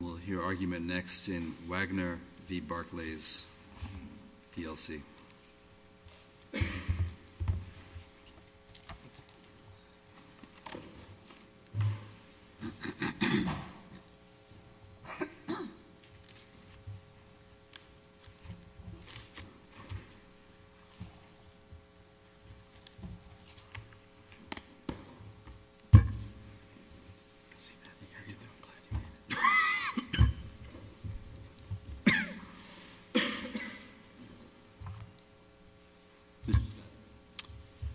We'll hear argument next in Wagner v. Barclays PLC.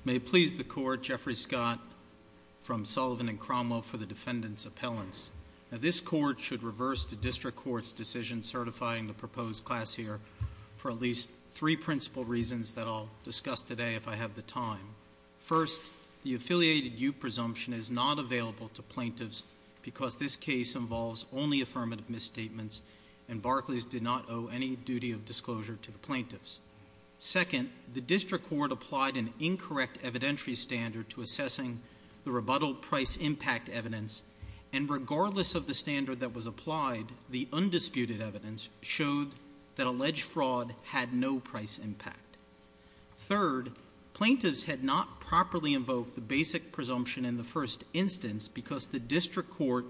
May it please the Court, Jeffrey Scott from Sullivan and Cromwell for the Defendant's Appellants. This Court should reverse the District Court's decision certifying the proposed class here for at least three principal reasons that I'll discuss today if I have the time. First, the affiliated you presumption is not available to plaintiffs because this case involves only affirmative misstatements, and Barclays did not owe any duty of disclosure to the plaintiffs. Second, the District Court applied an incorrect evidentiary standard to assessing the rebuttal price impact evidence, and regardless of the standard that was applied, the undisputed evidence showed that alleged fraud had no price impact. Third, plaintiffs had not properly invoked the basic presumption in the first instance because the District Court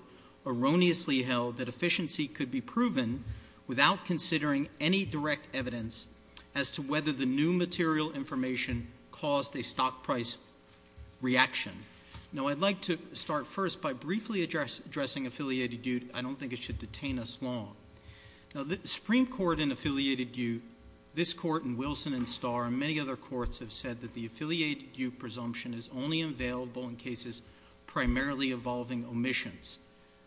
erroneously held that efficiency could be proven without considering any direct evidence as to whether the new material information caused a stock price reaction. Now, I'd like to start first by briefly addressing affiliated you. I don't think it should detain us long. Now, the Supreme Court in affiliated you, this Court and Wilson and Starr and many other courts have said that the affiliated you presumption is only available in cases primarily involving omissions.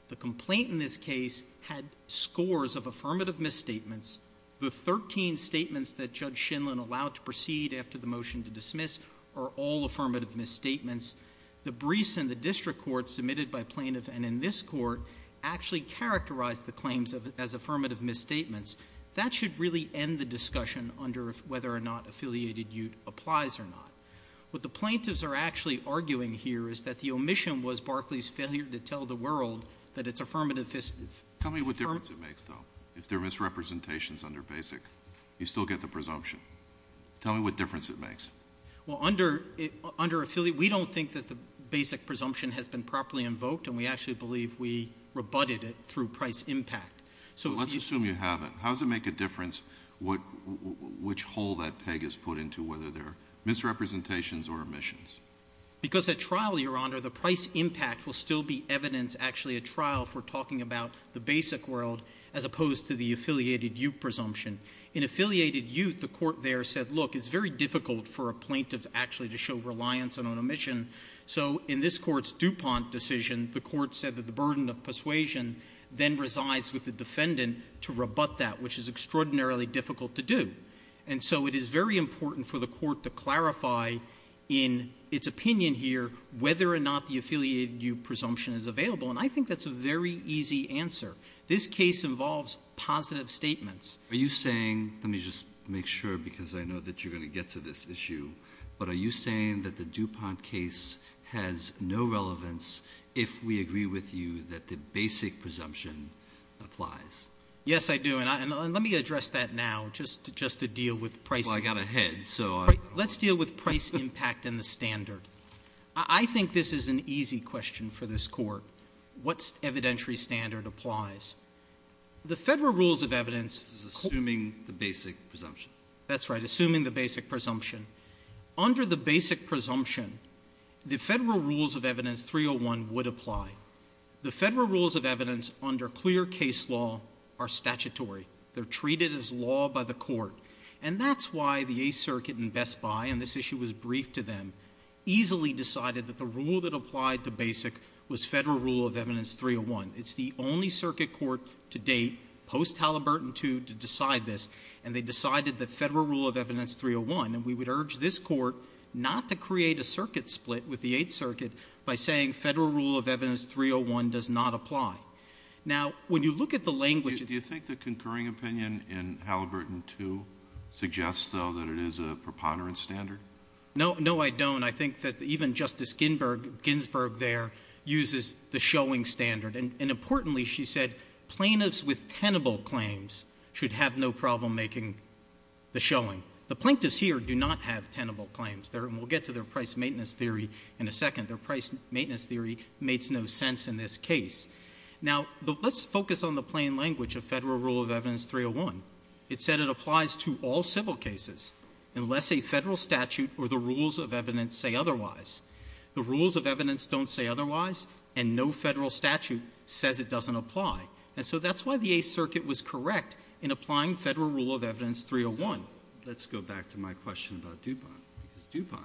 The complaint in this case had scores of affirmative misstatements. The 13 statements that Judge Shinlen allowed to proceed after the motion to dismiss are all affirmative misstatements. The briefs in the District Court submitted by plaintiff and in this Court actually characterized the claims as affirmative misstatements. That should really end the discussion under whether or not affiliated you applies or not. What the plaintiffs are actually arguing here is that the omission was Barclay's failure to tell the world that it's affirmative. Tell me what difference it makes, though, if there are misrepresentations under basic. You still get the presumption. Tell me what difference it makes. Well, under affiliate, we don't think that the basic presumption has been properly invoked and we actually believe we rebutted it through price impact. So let's assume you have it. How does it make a difference which hole that peg is put into, whether they're misrepresentations or omissions? Because at trial, Your Honor, the price impact will still be evidence actually at trial for talking about the basic world as opposed to the affiliated you presumption. In affiliated you, the Court there said, look, it's very difficult for a plaintiff actually to show reliance on an omission. So in this Court's DuPont decision, the Court said that the burden of persuasion then resides with the defendant to rebut that, which is extraordinarily difficult to do. And so it is very important for the Court to clarify in its opinion here whether or not the affiliated you presumption is available, and I think that's a very easy answer. This case involves positive statements. Are you saying — let me just make sure because I know that you're going to get to this issue — but are you saying that the DuPont case has no relevance if we agree with you that the basic presumption applies? Yes, I do. And let me address that now just to deal with price — Well, I got ahead, so — All right. Let's deal with price impact and the standard. I think this is an easy question for this Court. What evidentiary standard applies? The Federal Rules of Evidence — This is assuming the basic presumption. That's right, assuming the basic presumption. Under the basic presumption, the Federal Rules of Evidence 301 would apply. The Federal Rules of Evidence under clear case law are statutory. They're treated as law by the Court. And that's why the Eighth Circuit in Best Buy — and this issue was briefed to them — easily decided that the rule that applied to basic was Federal Rule of Evidence 301. It's the only circuit court to date, post-Halliburton II, to decide this, and they decided the Federal Rule of Evidence 301. And we would urge this Court not to create a circuit split with the Eighth Circuit by saying Federal Rule of Evidence 301 does not apply. Now, when you look at the language — Do you think the concurring opinion in Halliburton II suggests, though, that it is a preponderance standard? No. No, I don't. I think that even Justice Ginsburg there uses the showing standard. And importantly, she said plaintiffs with tenable claims should have no problem making the showing. The plaintiffs here do not have tenable claims. And we'll get to their price maintenance theory in a second. Their price maintenance theory makes no sense in this case. Now, let's focus on the plain language of Federal Rule of Evidence 301. It said it applies to all civil cases unless a Federal statute or the rules of evidence say otherwise. The rules of evidence don't say otherwise, and no Federal statute says it doesn't apply. And so that's why the Eighth Circuit was correct in applying Federal Rule of Evidence 301. Well, let's go back to my question about DuPont, because DuPont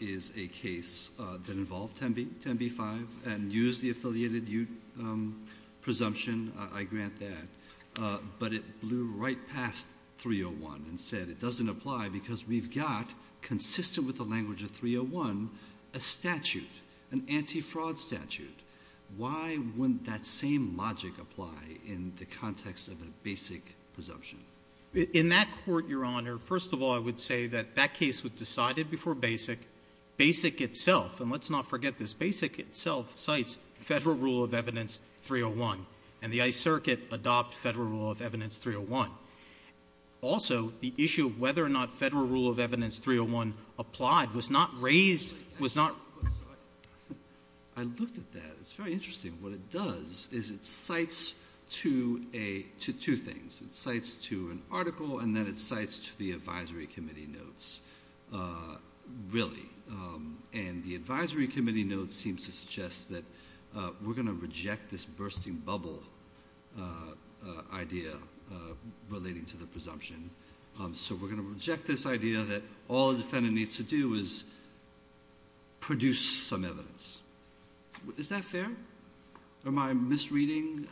is a case that involved 10B-5 and used the affiliated presumption. I grant that. But it blew right past 301 and said it doesn't apply because we've got, consistent with the language of 301, a statute, an anti-fraud statute. Why wouldn't that same logic apply in the context of a basic presumption? In that court, Your Honor, first of all, I would say that that case was decided before basic. Basic itself, and let's not forget this, basic itself cites Federal Rule of Evidence 301. And the Ice Circuit adopted Federal Rule of Evidence 301. Also, the issue of whether or not Federal Rule of Evidence 301 applied was not raised – I looked at that. It's very interesting. What it does is it cites two things. It cites to an article and then it cites to the advisory committee notes, really. And the advisory committee notes seem to suggest that we're going to reject this bursting bubble idea relating to the presumption. So we're going to reject this idea that all a defendant needs to do is produce some evidence. Is that fair? Am I misreading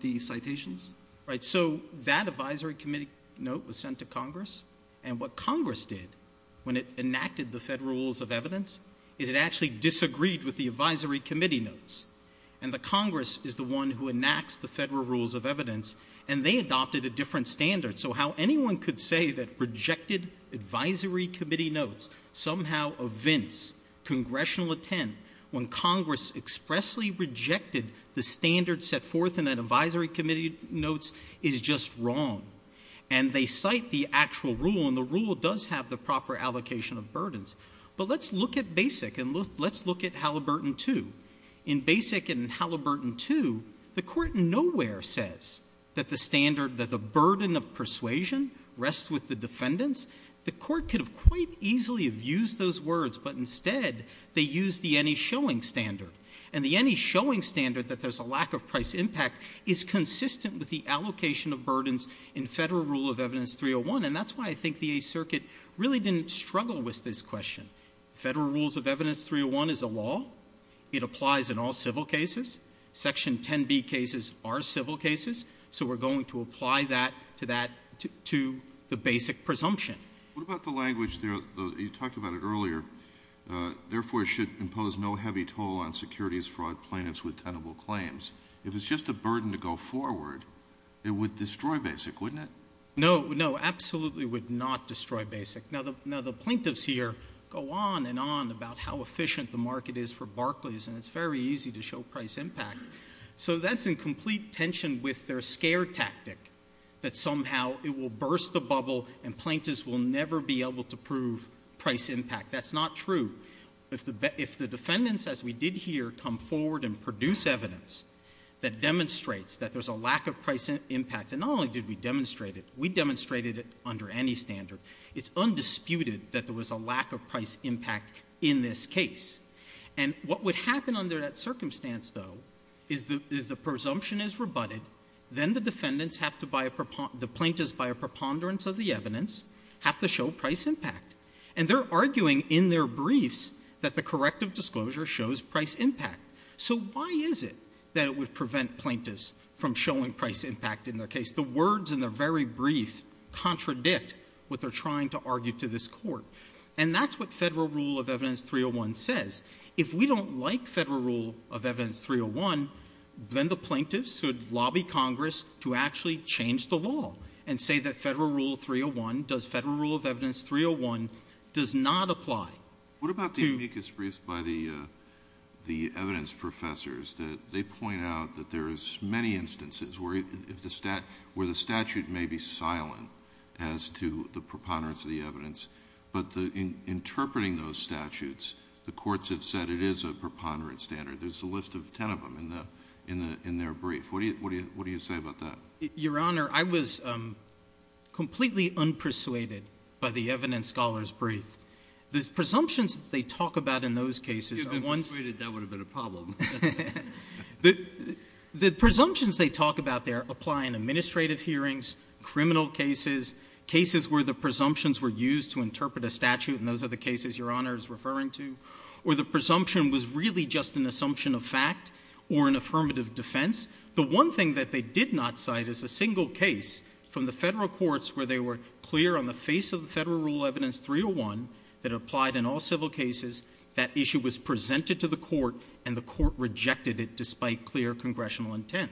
the citations? Right. So that advisory committee note was sent to Congress, and what Congress did when it enacted the Federal Rules of Evidence is it actually disagreed with the advisory committee notes. And the Congress is the one who enacts the Federal Rules of Evidence, and they adopted a different standard. So how anyone could say that rejected advisory committee notes somehow evince congressional intent when Congress expressly rejected the standard set forth in that advisory committee notes is just wrong. And they cite the actual rule, and the rule does have the proper allocation of burdens. But let's look at BASIC and let's look at Halliburton 2. In BASIC and Halliburton 2, the Court nowhere says that the standard, that the burden of persuasion rests with the defendants. The Court could have quite easily have used those words, but instead they used the any-showing standard. And the any-showing standard, that there's a lack of price impact, is consistent with the allocation of burdens in Federal Rule of Evidence 301. And that's why I think the Eighth Circuit really didn't struggle with this question. Federal Rules of Evidence 301 is a law. It applies in all civil cases. Section 10B cases are civil cases. So we're going to apply that to that, to the BASIC presumption. What about the language there, you talked about it earlier, therefore should impose no heavy toll on securities fraud plaintiffs with tenable claims. If it's just a burden to go forward, it would destroy BASIC, wouldn't it? No. No, absolutely would not destroy BASIC. Now the plaintiffs here go on and on about how efficient the market is for Barclays, and it's very easy to show price impact. So that's in complete tension with their scare tactic, that somehow it will burst the bubble and plaintiffs will never be able to prove price impact. That's not true. If the defendants, as we did here, come forward and produce evidence that demonstrates that there's a lack of price impact, and not only did we demonstrate it, we demonstrated it under any standard, it's undisputed that there was a lack of price impact in this case. And what would happen under that circumstance, though, is the presumption is rebutted, then the defendants have to buy a – the plaintiffs, by a preponderance of the evidence, have to show price impact. And they're arguing in their briefs that the corrective disclosure shows price impact. So why is it that it would prevent plaintiffs from showing price impact in their case? The words in the very brief contradict what they're trying to argue to this Court. And that's what Federal Rule of Evidence 301 says. If we don't like Federal Rule of Evidence 301, then the plaintiffs should lobby Congress to actually change the law and say that Federal Rule 301 does – Federal Rule of Evidence 301 does not apply. Alito, what about the amicus briefs by the evidence professors that they point out that there's many instances where the statute may be silent as to the preponderance of the evidence, but in interpreting those statutes, the courts have said it is a preponderance standard. There's a list of ten of them in their brief. What do you say about that? Your Honor, I was completely unpersuaded by the evidence scholars' brief. The presumptions that they talk about in those cases are ones – If you had been persuaded, that would have been a problem. The presumptions they talk about there apply in administrative hearings, criminal cases, cases where the presumptions were used to interpret a statute, and those are the cases Your Honor is referring to, or the presumption was really just an assumption of fact or an affirmative defense. The one thing that they did not cite is a single case from the Federal courts where they were clear on the face of the Federal Rule of Evidence 301 that applied in all civil cases. That issue was presented to the court, and the court rejected it despite clear congressional intent.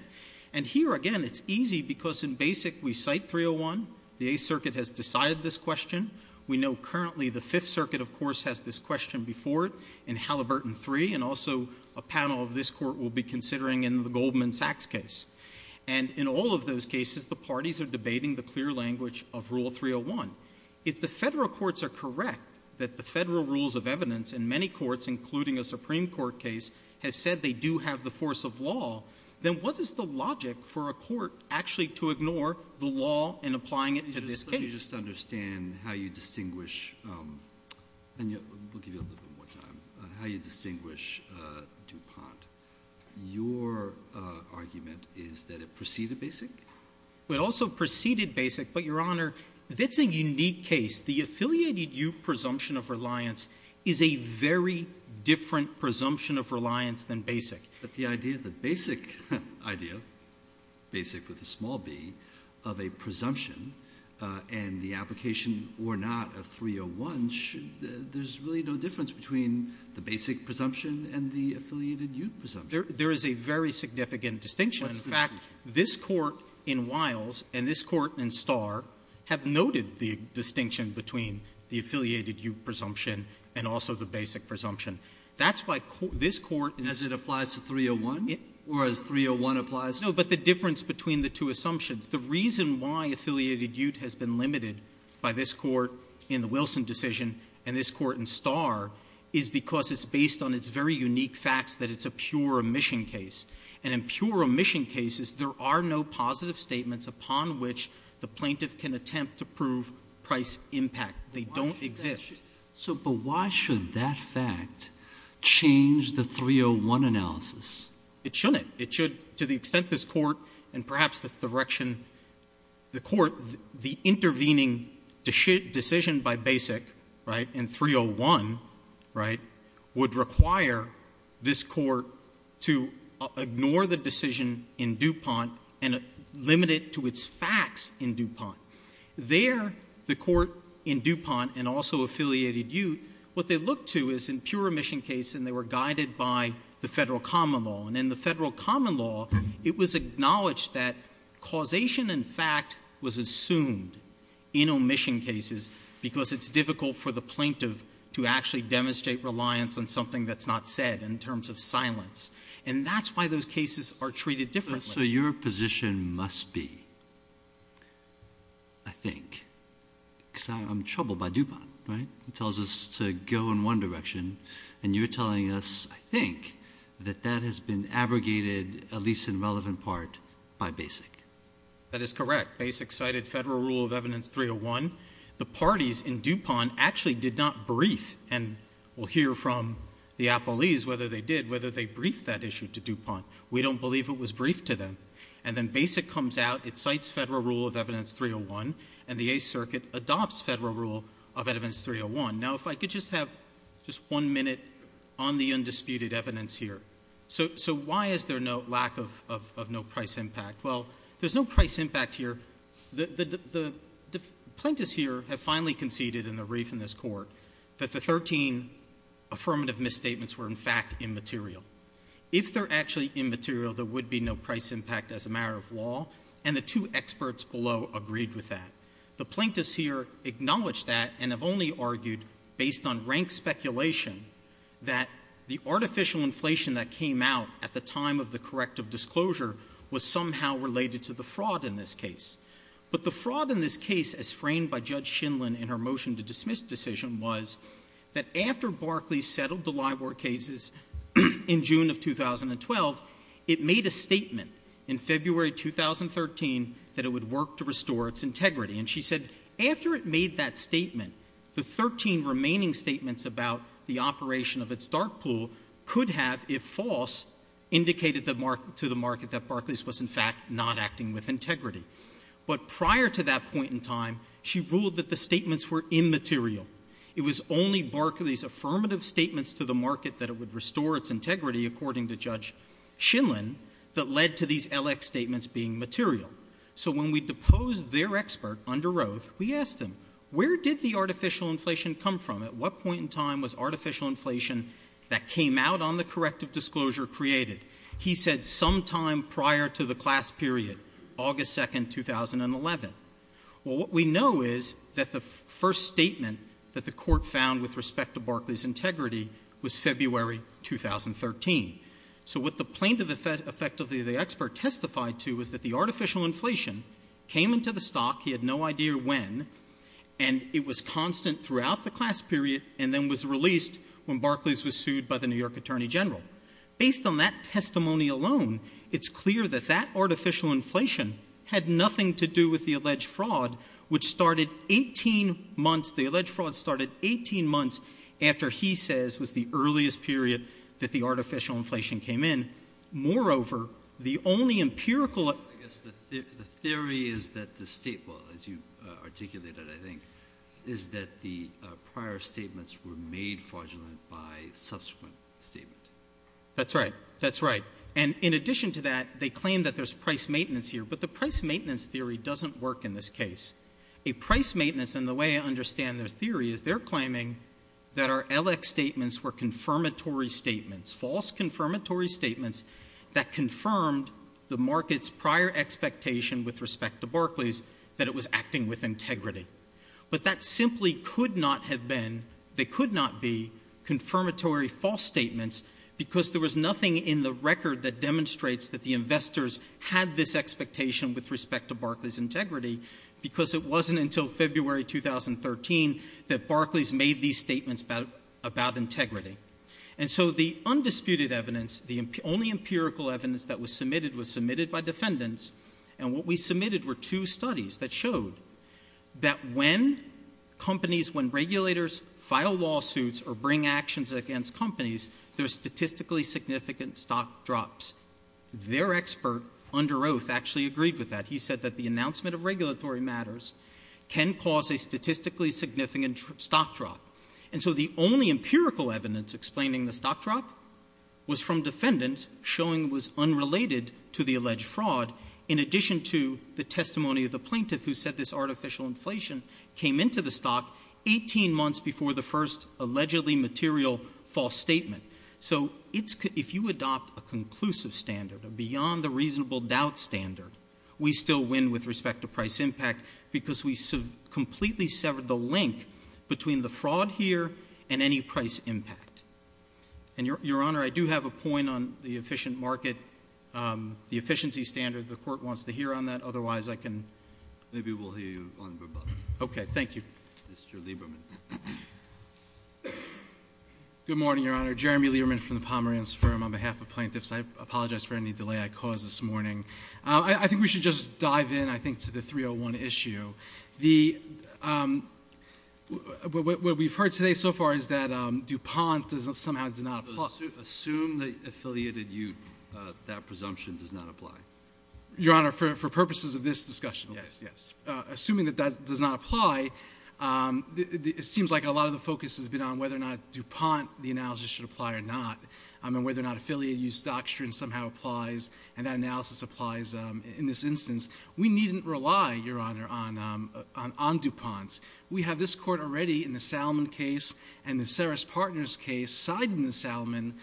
And here, again, it's easy because in Basic we cite 301. The Eighth Circuit has decided this question. We know currently the Fifth Circuit, of course, has this question before it in Halliburton 3, and also a panel of this Court will be considering in the Goldman Sachs case. And in all of those cases, the parties are debating the clear language of Rule 301. If the Federal courts are correct that the Federal Rules of Evidence in many courts, including a Supreme Court case, have said they do have the force of law, then what is the logic for a court actually to ignore the law in applying it to this case? Let me just understand how you distinguish, and we'll give you a little bit more time, how you distinguish DuPont. Your argument is that it preceded Basic? It also preceded Basic, but, Your Honor, that's a unique case. The affiliated-you presumption of reliance is a very different presumption of reliance than Basic. But the idea, the Basic idea, Basic with a small b, of a presumption and the application or not of 301, there's really no difference between the Basic presumption and the affiliated-you presumption. There is a very significant distinction. In fact, this Court in Wiles and this Court in Starr have noted the distinction between the affiliated-you presumption and also the Basic presumption. As 301? Or as 301 applies? No, but the difference between the two assumptions. The reason why affiliated-you has been limited by this Court in the Wilson decision and this Court in Starr is because it's based on its very unique facts that it's a pure omission case. And in pure omission cases, there are no positive statements upon which the plaintiff can attempt to prove price impact. They don't exist. So, but why should that fact change the 301 analysis? It shouldn't. It should, to the extent this Court and perhaps the direction-the Court, the intervening decision by Basic, right, in 301, right, would require this Court to ignore the decision in DuPont and limit it to its facts in DuPont. There, the Court in DuPont and also affiliated-you, what they look to is in pure omission cases, and they were guided by the Federal common law. And in the Federal common law, it was acknowledged that causation and fact was assumed in omission cases because it's difficult for the plaintiff to actually demonstrate reliance on something that's not said in terms of silence. And that's why those cases are treated differently. So your position must be, I think, because I'm troubled by DuPont, right? It tells us to go in one direction, and you're telling us, I think, that that has been abrogated, at least in relevant part, by Basic. That is correct. Basic cited Federal rule of evidence 301. The parties in DuPont actually did not brief, and we'll hear from the appellees whether they did, whether they briefed that issue to DuPont. We don't believe it was briefed to them. And then Basic comes out, it cites Federal rule of evidence 301, and the Eighth Circuit adopts Federal rule of evidence 301. Now, if I could just have just one minute on the undisputed evidence here. So, so why is there no lack of, of, of no price impact? Well, there's no price impact here. The, the, the, the plaintiffs here have finally conceded in the brief in this Court that the 13 affirmative misstatements were, in fact, immaterial. If they're actually immaterial, there would be no price impact as a matter of law. And the two experts below agreed with that. The plaintiffs here acknowledge that and have only argued, based on rank speculation, that the artificial inflation that came out at the time of the corrective disclosure was somehow related to the fraud in this case. But the fraud in this case, as framed by Judge Shindlin in her motion to dismiss decision, was that after Barclays settled the Libor cases in June of 2012, it made a statement in February 2013 that it would work to restore its integrity. And she said, after it made that statement, the 13 remaining statements about the operation of its dark pool could have, if false, indicated to the market that Barclays was, in fact, not acting with integrity. But prior to that point in time, she ruled that the statements were immaterial. It was only Barclays' affirmative statements to the market that it would restore its integrity, according to Judge Shindlin, that led to these LX statements being material. So when we deposed their expert under Roath, we asked him, where did the artificial inflation come from? At what point in time was artificial inflation that came out on the corrective disclosure created? He said, sometime prior to the class period, August 2, 2011. Well, what we know is that the first statement that the court found with respect to Barclays' integrity was February 2013. So what the plaintiff effectively, the expert, testified to was that the artificial inflation came into the stock. He had no idea when. And it was constant throughout the class period and then was released when Barclays was sued by the New York Attorney General. Based on that testimony alone, it's clear that that artificial inflation had nothing to do with the alleged fraud, which started 18 months, the alleged fraud started 18 months, after he says was the earliest period that the artificial inflation came in. Moreover, the only empirical- I guess the theory is that the state, well, as you articulated, I think, is that the prior statements were made fraudulent by subsequent statement. That's right, that's right. And in addition to that, they claim that there's price maintenance here, but the price maintenance theory doesn't work in this case. A price maintenance, and the way I understand their theory, is they're claiming that our LX statements were confirmatory statements, false confirmatory statements that confirmed the market's prior expectation with respect to Barclays that it was acting with integrity. But that simply could not have been, they could not be confirmatory false statements because there was nothing in the record that demonstrates that the investors had this expectation with respect to Barclays' integrity. Because it wasn't until February 2013 that Barclays made these statements about integrity. And so the undisputed evidence, the only empirical evidence that was submitted was submitted by defendants. And what we submitted were two studies that showed that when companies, when regulators file lawsuits or bring actions against companies, there's statistically significant stock drops. Their expert, under oath, actually agreed with that. He said that the announcement of regulatory matters can cause a statistically significant stock drop. And so the only empirical evidence explaining the stock drop was from defendants showing it was unrelated to the alleged fraud. In addition to the testimony of the plaintiff who said this artificial inflation came into the stock 18 months before the first allegedly material false statement. So if you adopt a conclusive standard, a beyond the reasonable doubt standard, we still win with respect to price impact because we completely severed the link between the fraud here and any price impact. And your honor, I do have a point on the efficient market, the efficiency standard. The court wants to hear on that, otherwise I can. Maybe we'll hear you on verbatim. Okay, thank you. Mr. Lieberman. Good morning, your honor. Jeremy Lieberman from the Pomerantz Firm on behalf of plaintiffs. I apologize for any delay I caused this morning. I think we should just dive in, I think, to the 301 issue. What we've heard today so far is that DuPont somehow does not apply. Assume the affiliated use, that presumption does not apply. Your honor, for purposes of this discussion, yes, yes. Assuming that that does not apply, it seems like a lot of the focus has been on whether or not DuPont, the analysis should apply or not, and whether or not affiliate use doctrine somehow applies. And that analysis applies in this instance. We needn't rely, your honor, on DuPont. We have this court already in the Salomon case and the Saris Partners case, side in the Salomon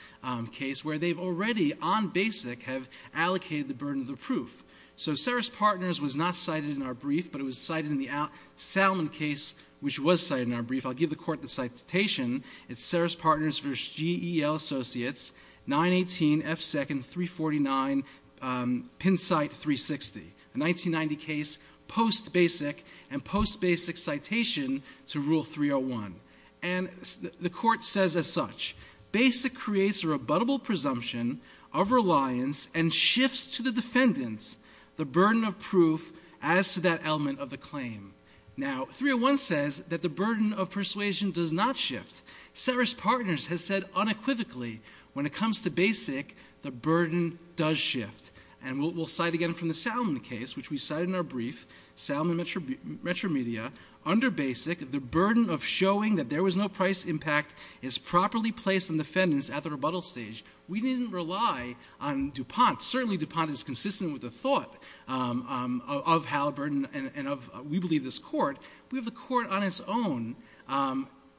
case where they've already on basic have allocated the burden of the proof. So Saris Partners was not cited in our brief, but it was cited in the Salomon case, which was cited in our brief. I'll give the court the citation. It's Saris Partners versus GEL Associates, 918 F2nd 349, pin site 360, a 1990 case, post basic, and post basic citation to rule 301, and the court says as such. Basic creates a rebuttable presumption of reliance and shifts to the defendants the burden of proof as to that element of the claim. Now, 301 says that the burden of persuasion does not shift. Saris Partners has said unequivocally, when it comes to basic, the burden does shift. And we'll cite again from the Salomon case, which we cite in our brief, Salomon Metromedia. Under basic, the burden of showing that there was no price impact is properly placed on defendants at the rebuttal stage. We didn't rely on DuPont. Certainly DuPont is consistent with the thought of Halliburton and of, we believe, this court. We have the court on its own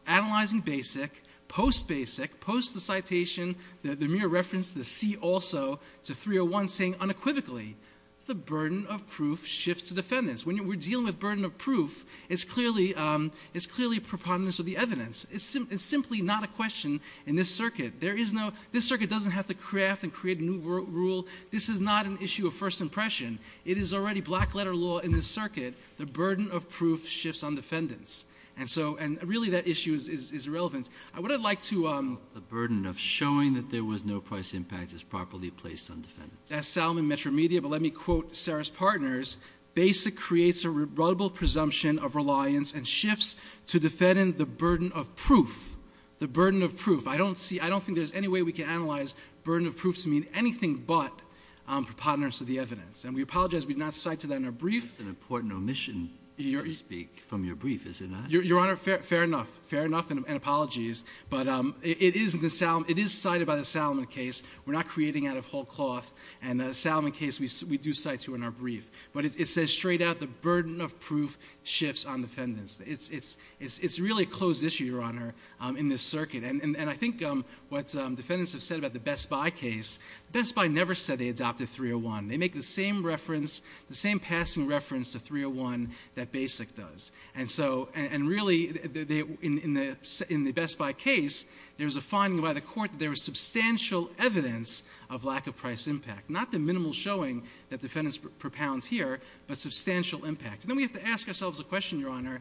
analyzing basic, post basic, post the citation, the mere reference to the C also, to 301 saying unequivocally. The burden of proof shifts to defendants. When we're dealing with burden of proof, it's clearly preponderance of the evidence. It's simply not a question in this circuit. This circuit doesn't have to craft and create a new rule. This is not an issue of first impression. It is already black letter law in this circuit. The burden of proof shifts on defendants. And really, that issue is irrelevant. What I'd like to- The burden of showing that there was no price impact is properly placed on defendants. That's Salomon Metromedia, but let me quote Saris Partners. Basic creates a rebuttable presumption of reliance and shifts to defending the burden of proof. The burden of proof. I don't think there's any way we can analyze burden of proof to mean anything but preponderance of the evidence. And we apologize we've not cited that in our brief. It's an important omission, so to speak, from your brief, is it not? Your Honor, fair enough, fair enough and apologies. But it is cited by the Salomon case. We're not creating out of whole cloth. And the Salomon case, we do cite to in our brief. But it says straight out, the burden of proof shifts on defendants. It's really a closed issue, Your Honor, in this circuit. And I think what defendants have said about the Best Buy case, Best Buy never said they adopted 301. They make the same reference, the same passing reference to 301 that Basic does. And so, and really, in the Best Buy case, there's a finding by the court that there was substantial evidence of lack of price impact. Not the minimal showing that defendants propounds here, but substantial impact. And then we have to ask ourselves a question, Your Honor.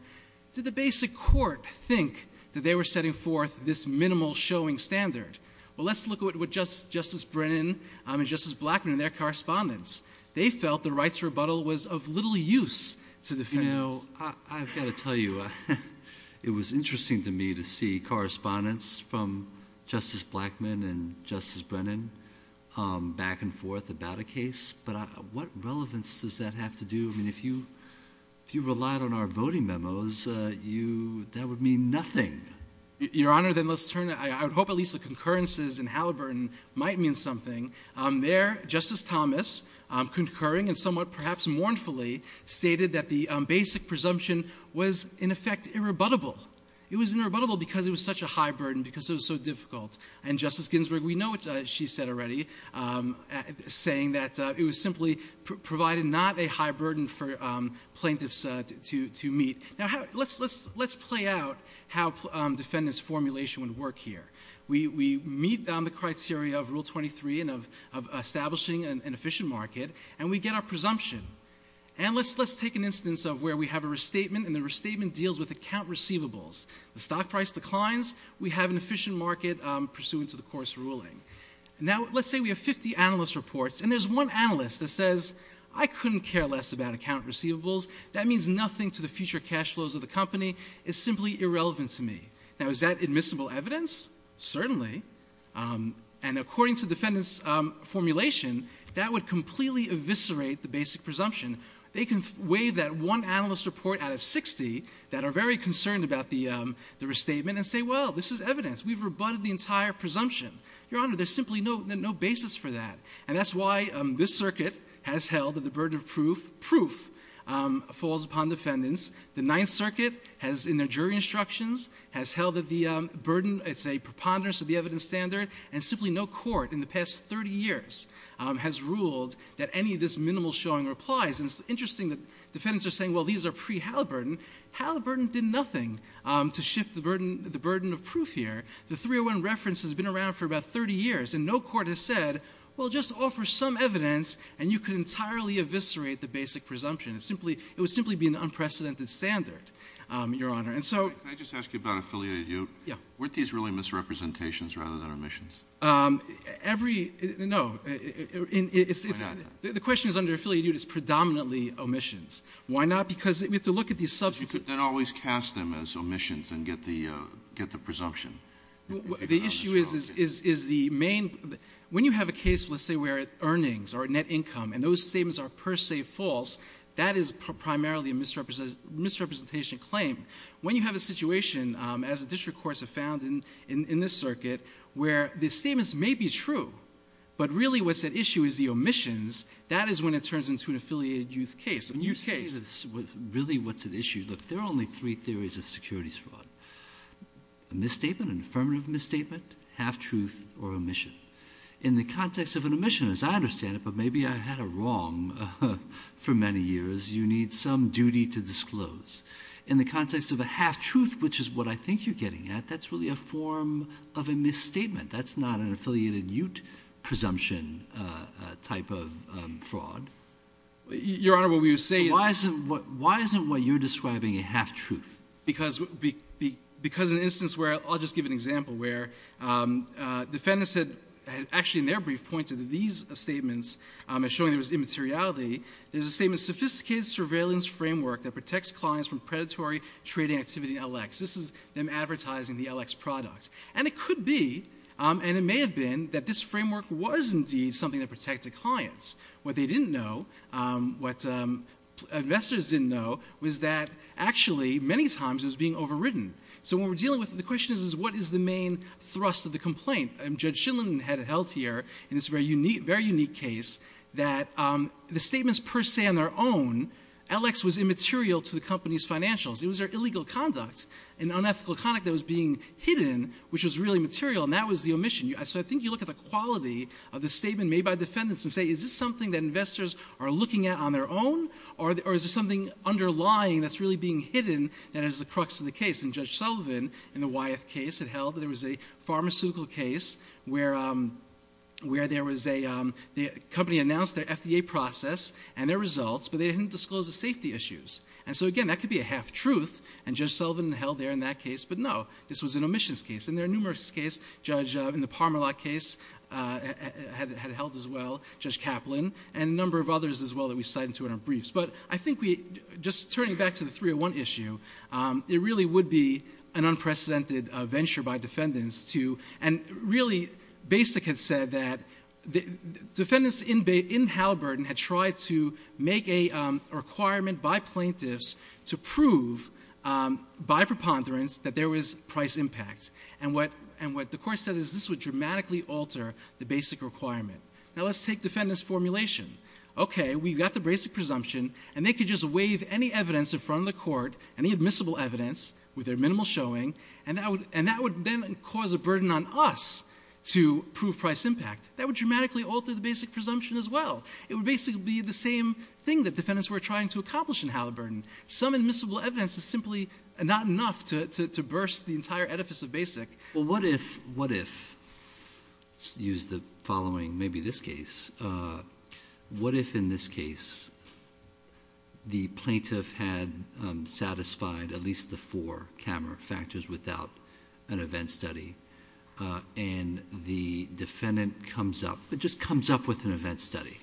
Did the basic court think that they were setting forth this minimal showing standard? Well, let's look at what Justice Brennan and Justice Blackmun and their correspondence. They felt the rights rebuttal was of little use to defendants. I've got to tell you, it was interesting to me to see correspondence from Justice Blackmun and Justice Brennan back and forth about a case, but what relevance does that have to do? I mean, if you relied on our voting memos, that would mean nothing. Your Honor, then let's turn, I would hope at least the concurrences in Halliburton might mean something. There, Justice Thomas, concurring and somewhat perhaps mournfully, stated that the basic presumption was, in effect, irrebuttable. It was irrebuttable because it was such a high burden, because it was so difficult. And Justice Ginsburg, we know what she said already, saying that it was simply provided not a high burden for plaintiffs to meet. Now, let's play out how defendant's formulation would work here. We meet on the criteria of Rule 23 and of establishing an efficient market, and we get our presumption. And let's take an instance of where we have a restatement, and the restatement deals with account receivables. The stock price declines, we have an efficient market pursuant to the court's ruling. Now, let's say we have 50 analyst reports, and there's one analyst that says, I couldn't care less about account receivables. That means nothing to the future cash flows of the company, it's simply irrelevant to me. Now, is that admissible evidence? Certainly, and according to defendant's formulation, that would completely eviscerate the basic presumption. They can waive that one analyst report out of 60 that are very concerned about the restatement and say, well, this is evidence. We've rebutted the entire presumption. Your Honor, there's simply no basis for that. And that's why this circuit has held that the burden of proof falls upon defendants. The Ninth Circuit has, in their jury instructions, has held that the burden, it's a preponderance of the evidence standard. And simply no court in the past 30 years has ruled that any of this minimal showing applies. And it's interesting that defendants are saying, well, these are pre-Halliburton. Halliburton did nothing to shift the burden of proof here. The 301 reference has been around for about 30 years, and no court has said, well, just offer some evidence, and you could entirely eviscerate the basic presumption. It would simply be an unprecedented standard, Your Honor. And so- Every, no, the question is under affiliate duty, it's predominantly omissions. Why not? Because we have to look at these substantive- You could then always cast them as omissions and get the presumption. The issue is the main, when you have a case, let's say, where earnings or net income, and those statements are per se false, that is primarily a misrepresentation claim. When you have a situation, as the district courts have found in this circuit, where the statements may be true, but really what's at issue is the omissions, that is when it turns into an affiliated youth case, a youth case. Really, what's at issue, look, there are only three theories of securities fraud, a misstatement, an affirmative misstatement, half-truth, or omission. In the context of an omission, as I understand it, but maybe I had it wrong for many years, you need some duty to disclose. In the context of a half-truth, which is what I think you're getting at, that's really a form of a misstatement. That's not an affiliated youth presumption type of fraud. Your Honor, what we would say is- Why isn't what you're describing a half-truth? Because in an instance where, I'll just give an example, where defendants had actually, in their brief, pointed to these statements as showing there was immateriality. There's a statement, sophisticated surveillance framework that protects clients from predatory trading activity in LX. This is them advertising the LX products. And it could be, and it may have been, that this framework was indeed something that protected clients. What they didn't know, what investors didn't know, was that actually, many times, it was being overridden. So what we're dealing with, the question is, is what is the main thrust of the complaint? Judge Shindlin had it held here, in this very unique case, that the statements per se on their own, LX was immaterial to the company's financials, it was their illegal conduct. An unethical conduct that was being hidden, which was really material, and that was the omission. So I think you look at the quality of the statement made by defendants and say, is this something that investors are looking at on their own? Or is there something underlying that's really being hidden that is the crux of the case? And Judge Sullivan, in the Wyeth case, had held that there was a pharmaceutical case where there was a, the company announced their FDA process and their results, but they didn't disclose the safety issues. And so again, that could be a half-truth, and Judge Sullivan held there in that case, but no, this was an omissions case. In their numerous case, Judge, in the Parmalat case, had it held as well. Judge Kaplan, and a number of others as well that we cite in our briefs. But I think we, just turning back to the 301 issue, it really would be an unprecedented venture by defendants to, and really, Basic had said that defendants in Halliburton had tried to make a requirement by plaintiffs to prove, by preponderance, that there was price impact. And what the court said is this would dramatically alter the basic requirement. Now let's take defendant's formulation. Okay, we've got the basic presumption, and they could just waive any evidence in front of the court, any admissible evidence with their minimal showing, and that would then cause a burden on us to prove price impact. That would dramatically alter the basic presumption as well. It would basically be the same thing that defendants were trying to accomplish in Halliburton. Some admissible evidence is simply not enough to burst the entire edifice of Basic. Well, what if, let's use the following, maybe this case. What if in this case, the plaintiff had satisfied at least the four camera factors without an event study? And the defendant comes up, but just comes up with an event study.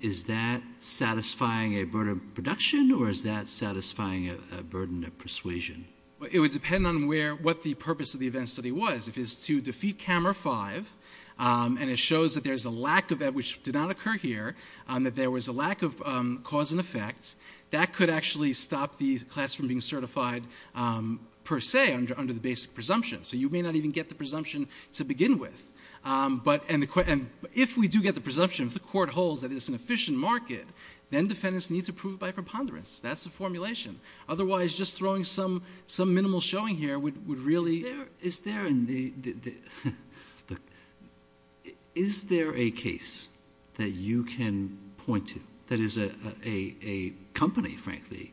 Is that satisfying a burden of production, or is that satisfying a burden of persuasion? It would depend on what the purpose of the event study was. If it's to defeat camera five, and it shows that there's a lack of that, which did not occur here, that there was a lack of cause and effect, that could actually stop the class from being certified per se under the basic presumption. So you may not even get the presumption to begin with. But if we do get the presumption, if the court holds that it's an efficient market, then defendants need to prove by preponderance. That's the formulation. Otherwise, just throwing some minimal showing here would really- Is there a case that you can point to, that is a company, frankly,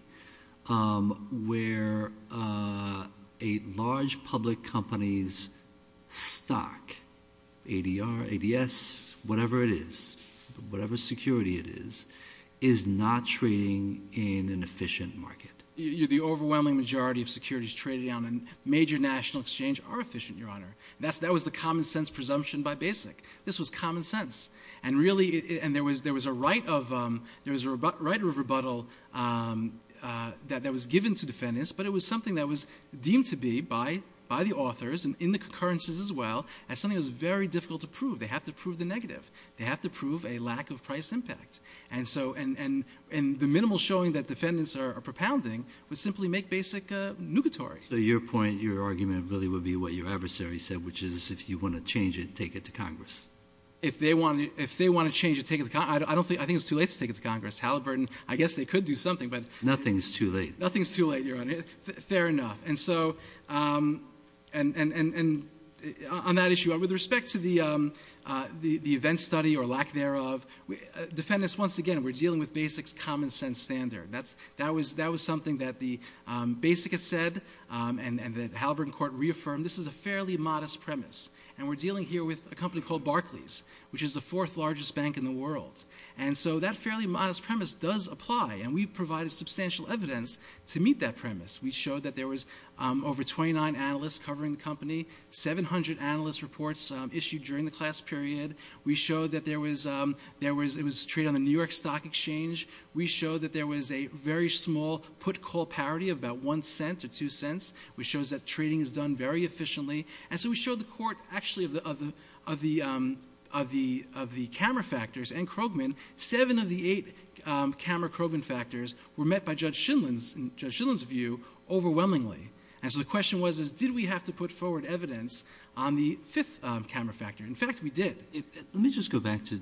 where a large public company's stock, ADR, ADS, whatever it is, whatever security it is, is not trading in an efficient market? The overwhelming majority of securities traded on a major national exchange are efficient, your honor. That was the common sense presumption by basic. This was common sense. And really, there was a right of rebuttal that was given to defendants, but it was something that was deemed to be by the authors, and in the concurrences as well, as something that was very difficult to prove. They have to prove the negative. They have to prove a lack of price impact. And the minimal showing that defendants are propounding would simply make basic nugatory. So your point, your argument, really would be what your adversary said, which is if you want to change it, take it to Congress. If they want to change it, take it to Congress, I think it's too late to take it to Congress. Halliburton, I guess they could do something, but- Nothing's too late. Nothing's too late, your honor. Fair enough. And so, on that issue, with respect to the event study, or lack thereof, defendants, once again, we're dealing with basics, common sense standard. That was something that the basic had said, and the Halliburton Court reaffirmed, this is a fairly modest premise. And we're dealing here with a company called Barclays, which is the fourth largest bank in the world. And so that fairly modest premise does apply, and we provided substantial evidence to meet that premise. We showed that there was over 29 analysts covering the company, 700 analyst reports issued during the class period. We showed that there was, it was a trade on the New York Stock Exchange. We showed that there was a very small put call parity of about one cent or two cents, which shows that trading is done very efficiently. And so we showed the court, actually, of the camera factors and Krogman, seven of the eight camera Krogman factors were met by Judge Shindlen's view overwhelmingly. And so the question was, did we have to put forward evidence on the fifth camera factor? In fact, we did. Let me just go back to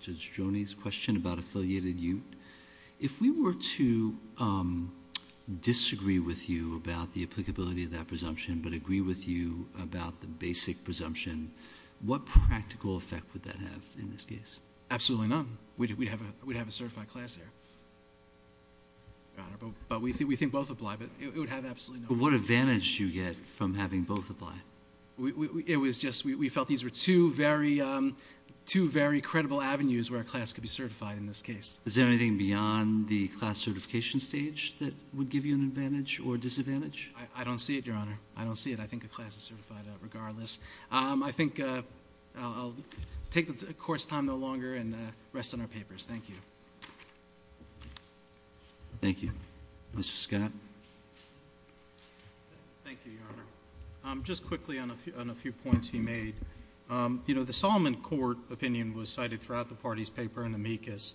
Judge Joni's question about affiliated youth. If we were to disagree with you about the applicability of that presumption, but agree with you about the basic presumption, what practical effect would that have in this case? Absolutely none. We'd have a certified class there. Your Honor, but we think both apply, but it would have absolutely none. But what advantage do you get from having both apply? It was just, we felt these were two very credible avenues where a class could be certified in this case. Is there anything beyond the class certification stage that would give you an advantage or disadvantage? I don't see it, Your Honor. I don't see it. I think a class is certified regardless. I think I'll take the court's time no longer and rest on our papers. Thank you. Thank you. Mr. Scott. Thank you, Your Honor. Just quickly on a few points you made. The Solomon Court opinion was cited throughout the party's paper in amicus.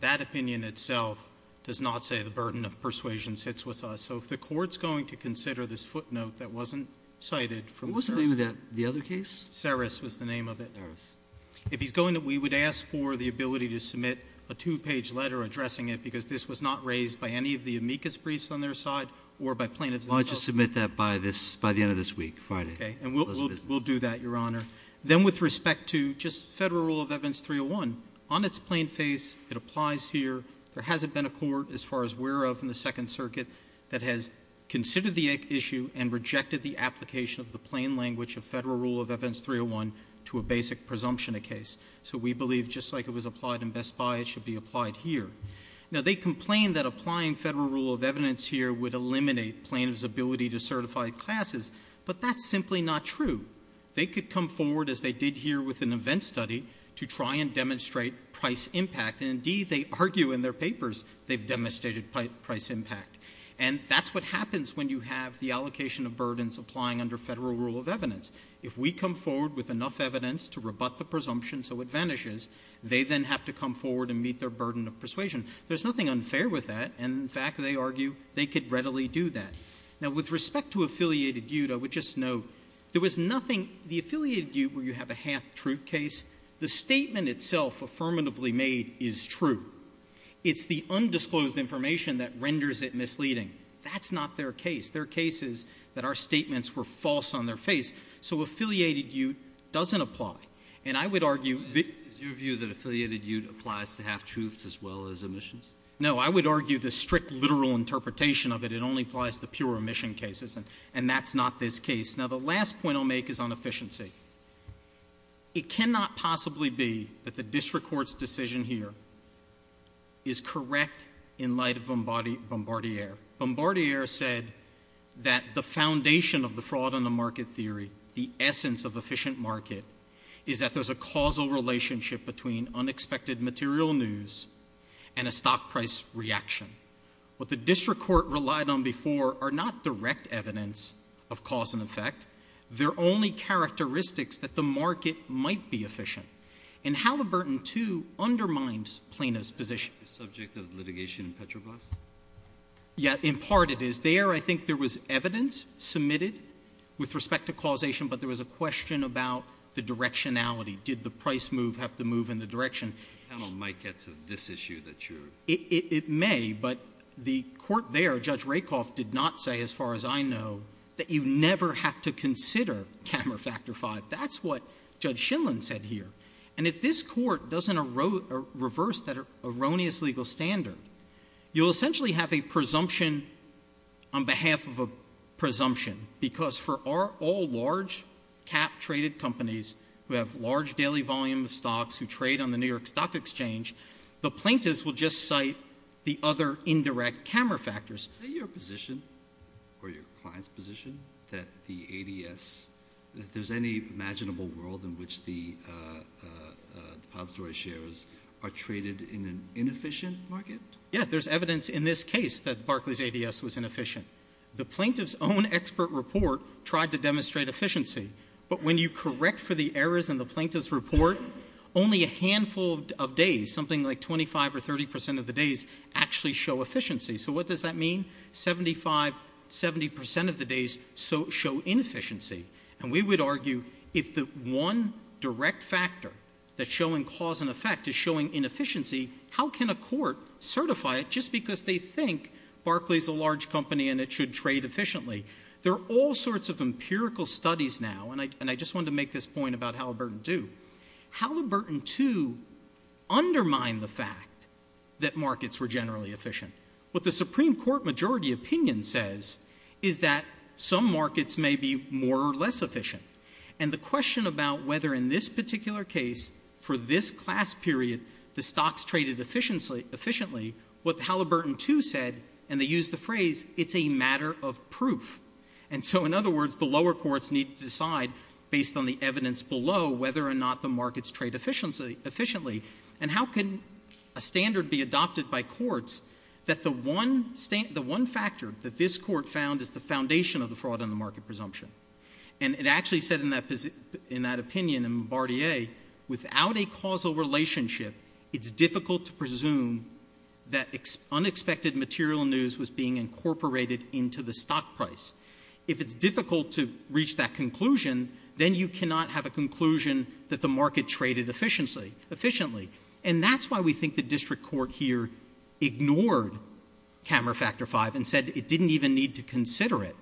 That opinion itself does not say the burden of persuasion sits with us. What was the name of that, the other case? Seris was the name of it. If he's going to, we would ask for the ability to submit a two page letter addressing it, because this was not raised by any of the amicus briefs on their side or by plaintiffs themselves. I'll just submit that by the end of this week, Friday. Okay, and we'll do that, Your Honor. Then with respect to just federal rule of evidence 301, on its plain face, it applies here. There hasn't been a court, as far as we're aware of in the Second Circuit, that has considered the issue and the plain language of federal rule of evidence 301 to a basic presumption of case. So we believe, just like it was applied in Best Buy, it should be applied here. Now, they complain that applying federal rule of evidence here would eliminate plaintiff's ability to certify classes, but that's simply not true. They could come forward, as they did here with an event study, to try and demonstrate price impact. And indeed, they argue in their papers they've demonstrated price impact. And that's what happens when you have the allocation of burdens applying under federal rule of evidence. If we come forward with enough evidence to rebut the presumption so it vanishes, they then have to come forward and meet their burden of persuasion. There's nothing unfair with that, and in fact, they argue, they could readily do that. Now, with respect to Affiliated Butte, I would just note, there was nothing, the Affiliated Butte, where you have a half-truth case. The statement itself, affirmatively made, is true. It's the undisclosed information that renders it misleading. That's not their case. Their case is that our statements were false on their face. So Affiliated Butte doesn't apply. And I would argue that- Is your view that Affiliated Butte applies to half-truths as well as omissions? No, I would argue the strict literal interpretation of it, it only applies to pure omission cases, and that's not this case. Now, the last point I'll make is on efficiency. It cannot possibly be that the district court's decision here is correct in light of Bombardier. Bombardier said that the foundation of the fraud on the market theory, the essence of efficient market, is that there's a causal relationship between unexpected material news and a stock price reaction. What the district court relied on before are not direct evidence of cause and effect. They're only characteristics that the market might be efficient. And Halliburton, too, undermines Plano's position. Is subject of litigation Petrobras? Yeah, in part it is. There, I think there was evidence submitted with respect to causation, but there was a question about the directionality. Did the price move have to move in the direction- The panel might get to this issue that you're- It may, but the court there, Judge Rakoff, did not say, as far as I know, that you never have to consider Cammer Factor V. That's what Judge Shinlen said here. And if this court doesn't reverse that erroneous legal standard, you'll essentially have a presumption on behalf of a presumption. Because for all large cap-traded companies who have large daily volume of stocks who trade on the New York Stock Exchange, the plaintiffs will just cite the other indirect Cammer Factors. Is that your position, or your client's position, that the ADS, that there's any imaginable world in which the depository shares are traded in an inefficient market? Yeah, there's evidence in this case that Barclay's ADS was inefficient. The plaintiff's own expert report tried to demonstrate efficiency, but when you correct for the errors in the plaintiff's report, only a handful of days, something like 25 or 30% of the days, actually show efficiency. So what does that mean? 75, 70% of the days show inefficiency. And we would argue, if the one direct factor that's showing cause and effect is showing inefficiency, how can a court certify it just because they think Barclay's a large company and it should trade efficiently? There are all sorts of empirical studies now, and I just wanted to make this point about Halliburton II. Halliburton II undermined the fact that markets were generally efficient. What the Supreme Court majority opinion says is that some markets may be more or less efficient. And the question about whether in this particular case, for this class period, the stocks traded efficiently, what Halliburton II said, and they used the phrase, it's a matter of proof. And so in other words, the lower courts need to decide, based on the evidence below, whether or not the markets trade efficiently. And how can a standard be adopted by courts that the one factor that this court found is the foundation of the fraud on the market presumption? And it actually said in that opinion in Bardia, without a causal relationship, it's difficult to presume that unexpected material news was being incorporated into the stock price. If it's difficult to reach that conclusion, then you cannot have a conclusion that the market traded efficiently. And that's why we think the district court here ignored camera factor five and said it didn't even need to consider it.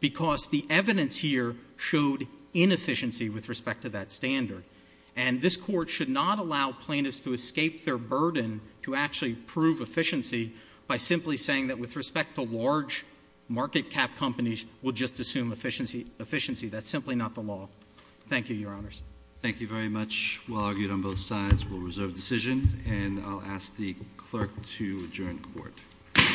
Because the evidence here showed inefficiency with respect to that standard. And this court should not allow plaintiffs to escape their burden to actually prove efficiency by simply saying that with respect to large market cap companies, we'll just assume efficiency. That's simply not the law. Thank you, your honors. Thank you very much. While argued on both sides, we'll reserve decision and I'll ask the clerk to adjourn court. Court is adjourned.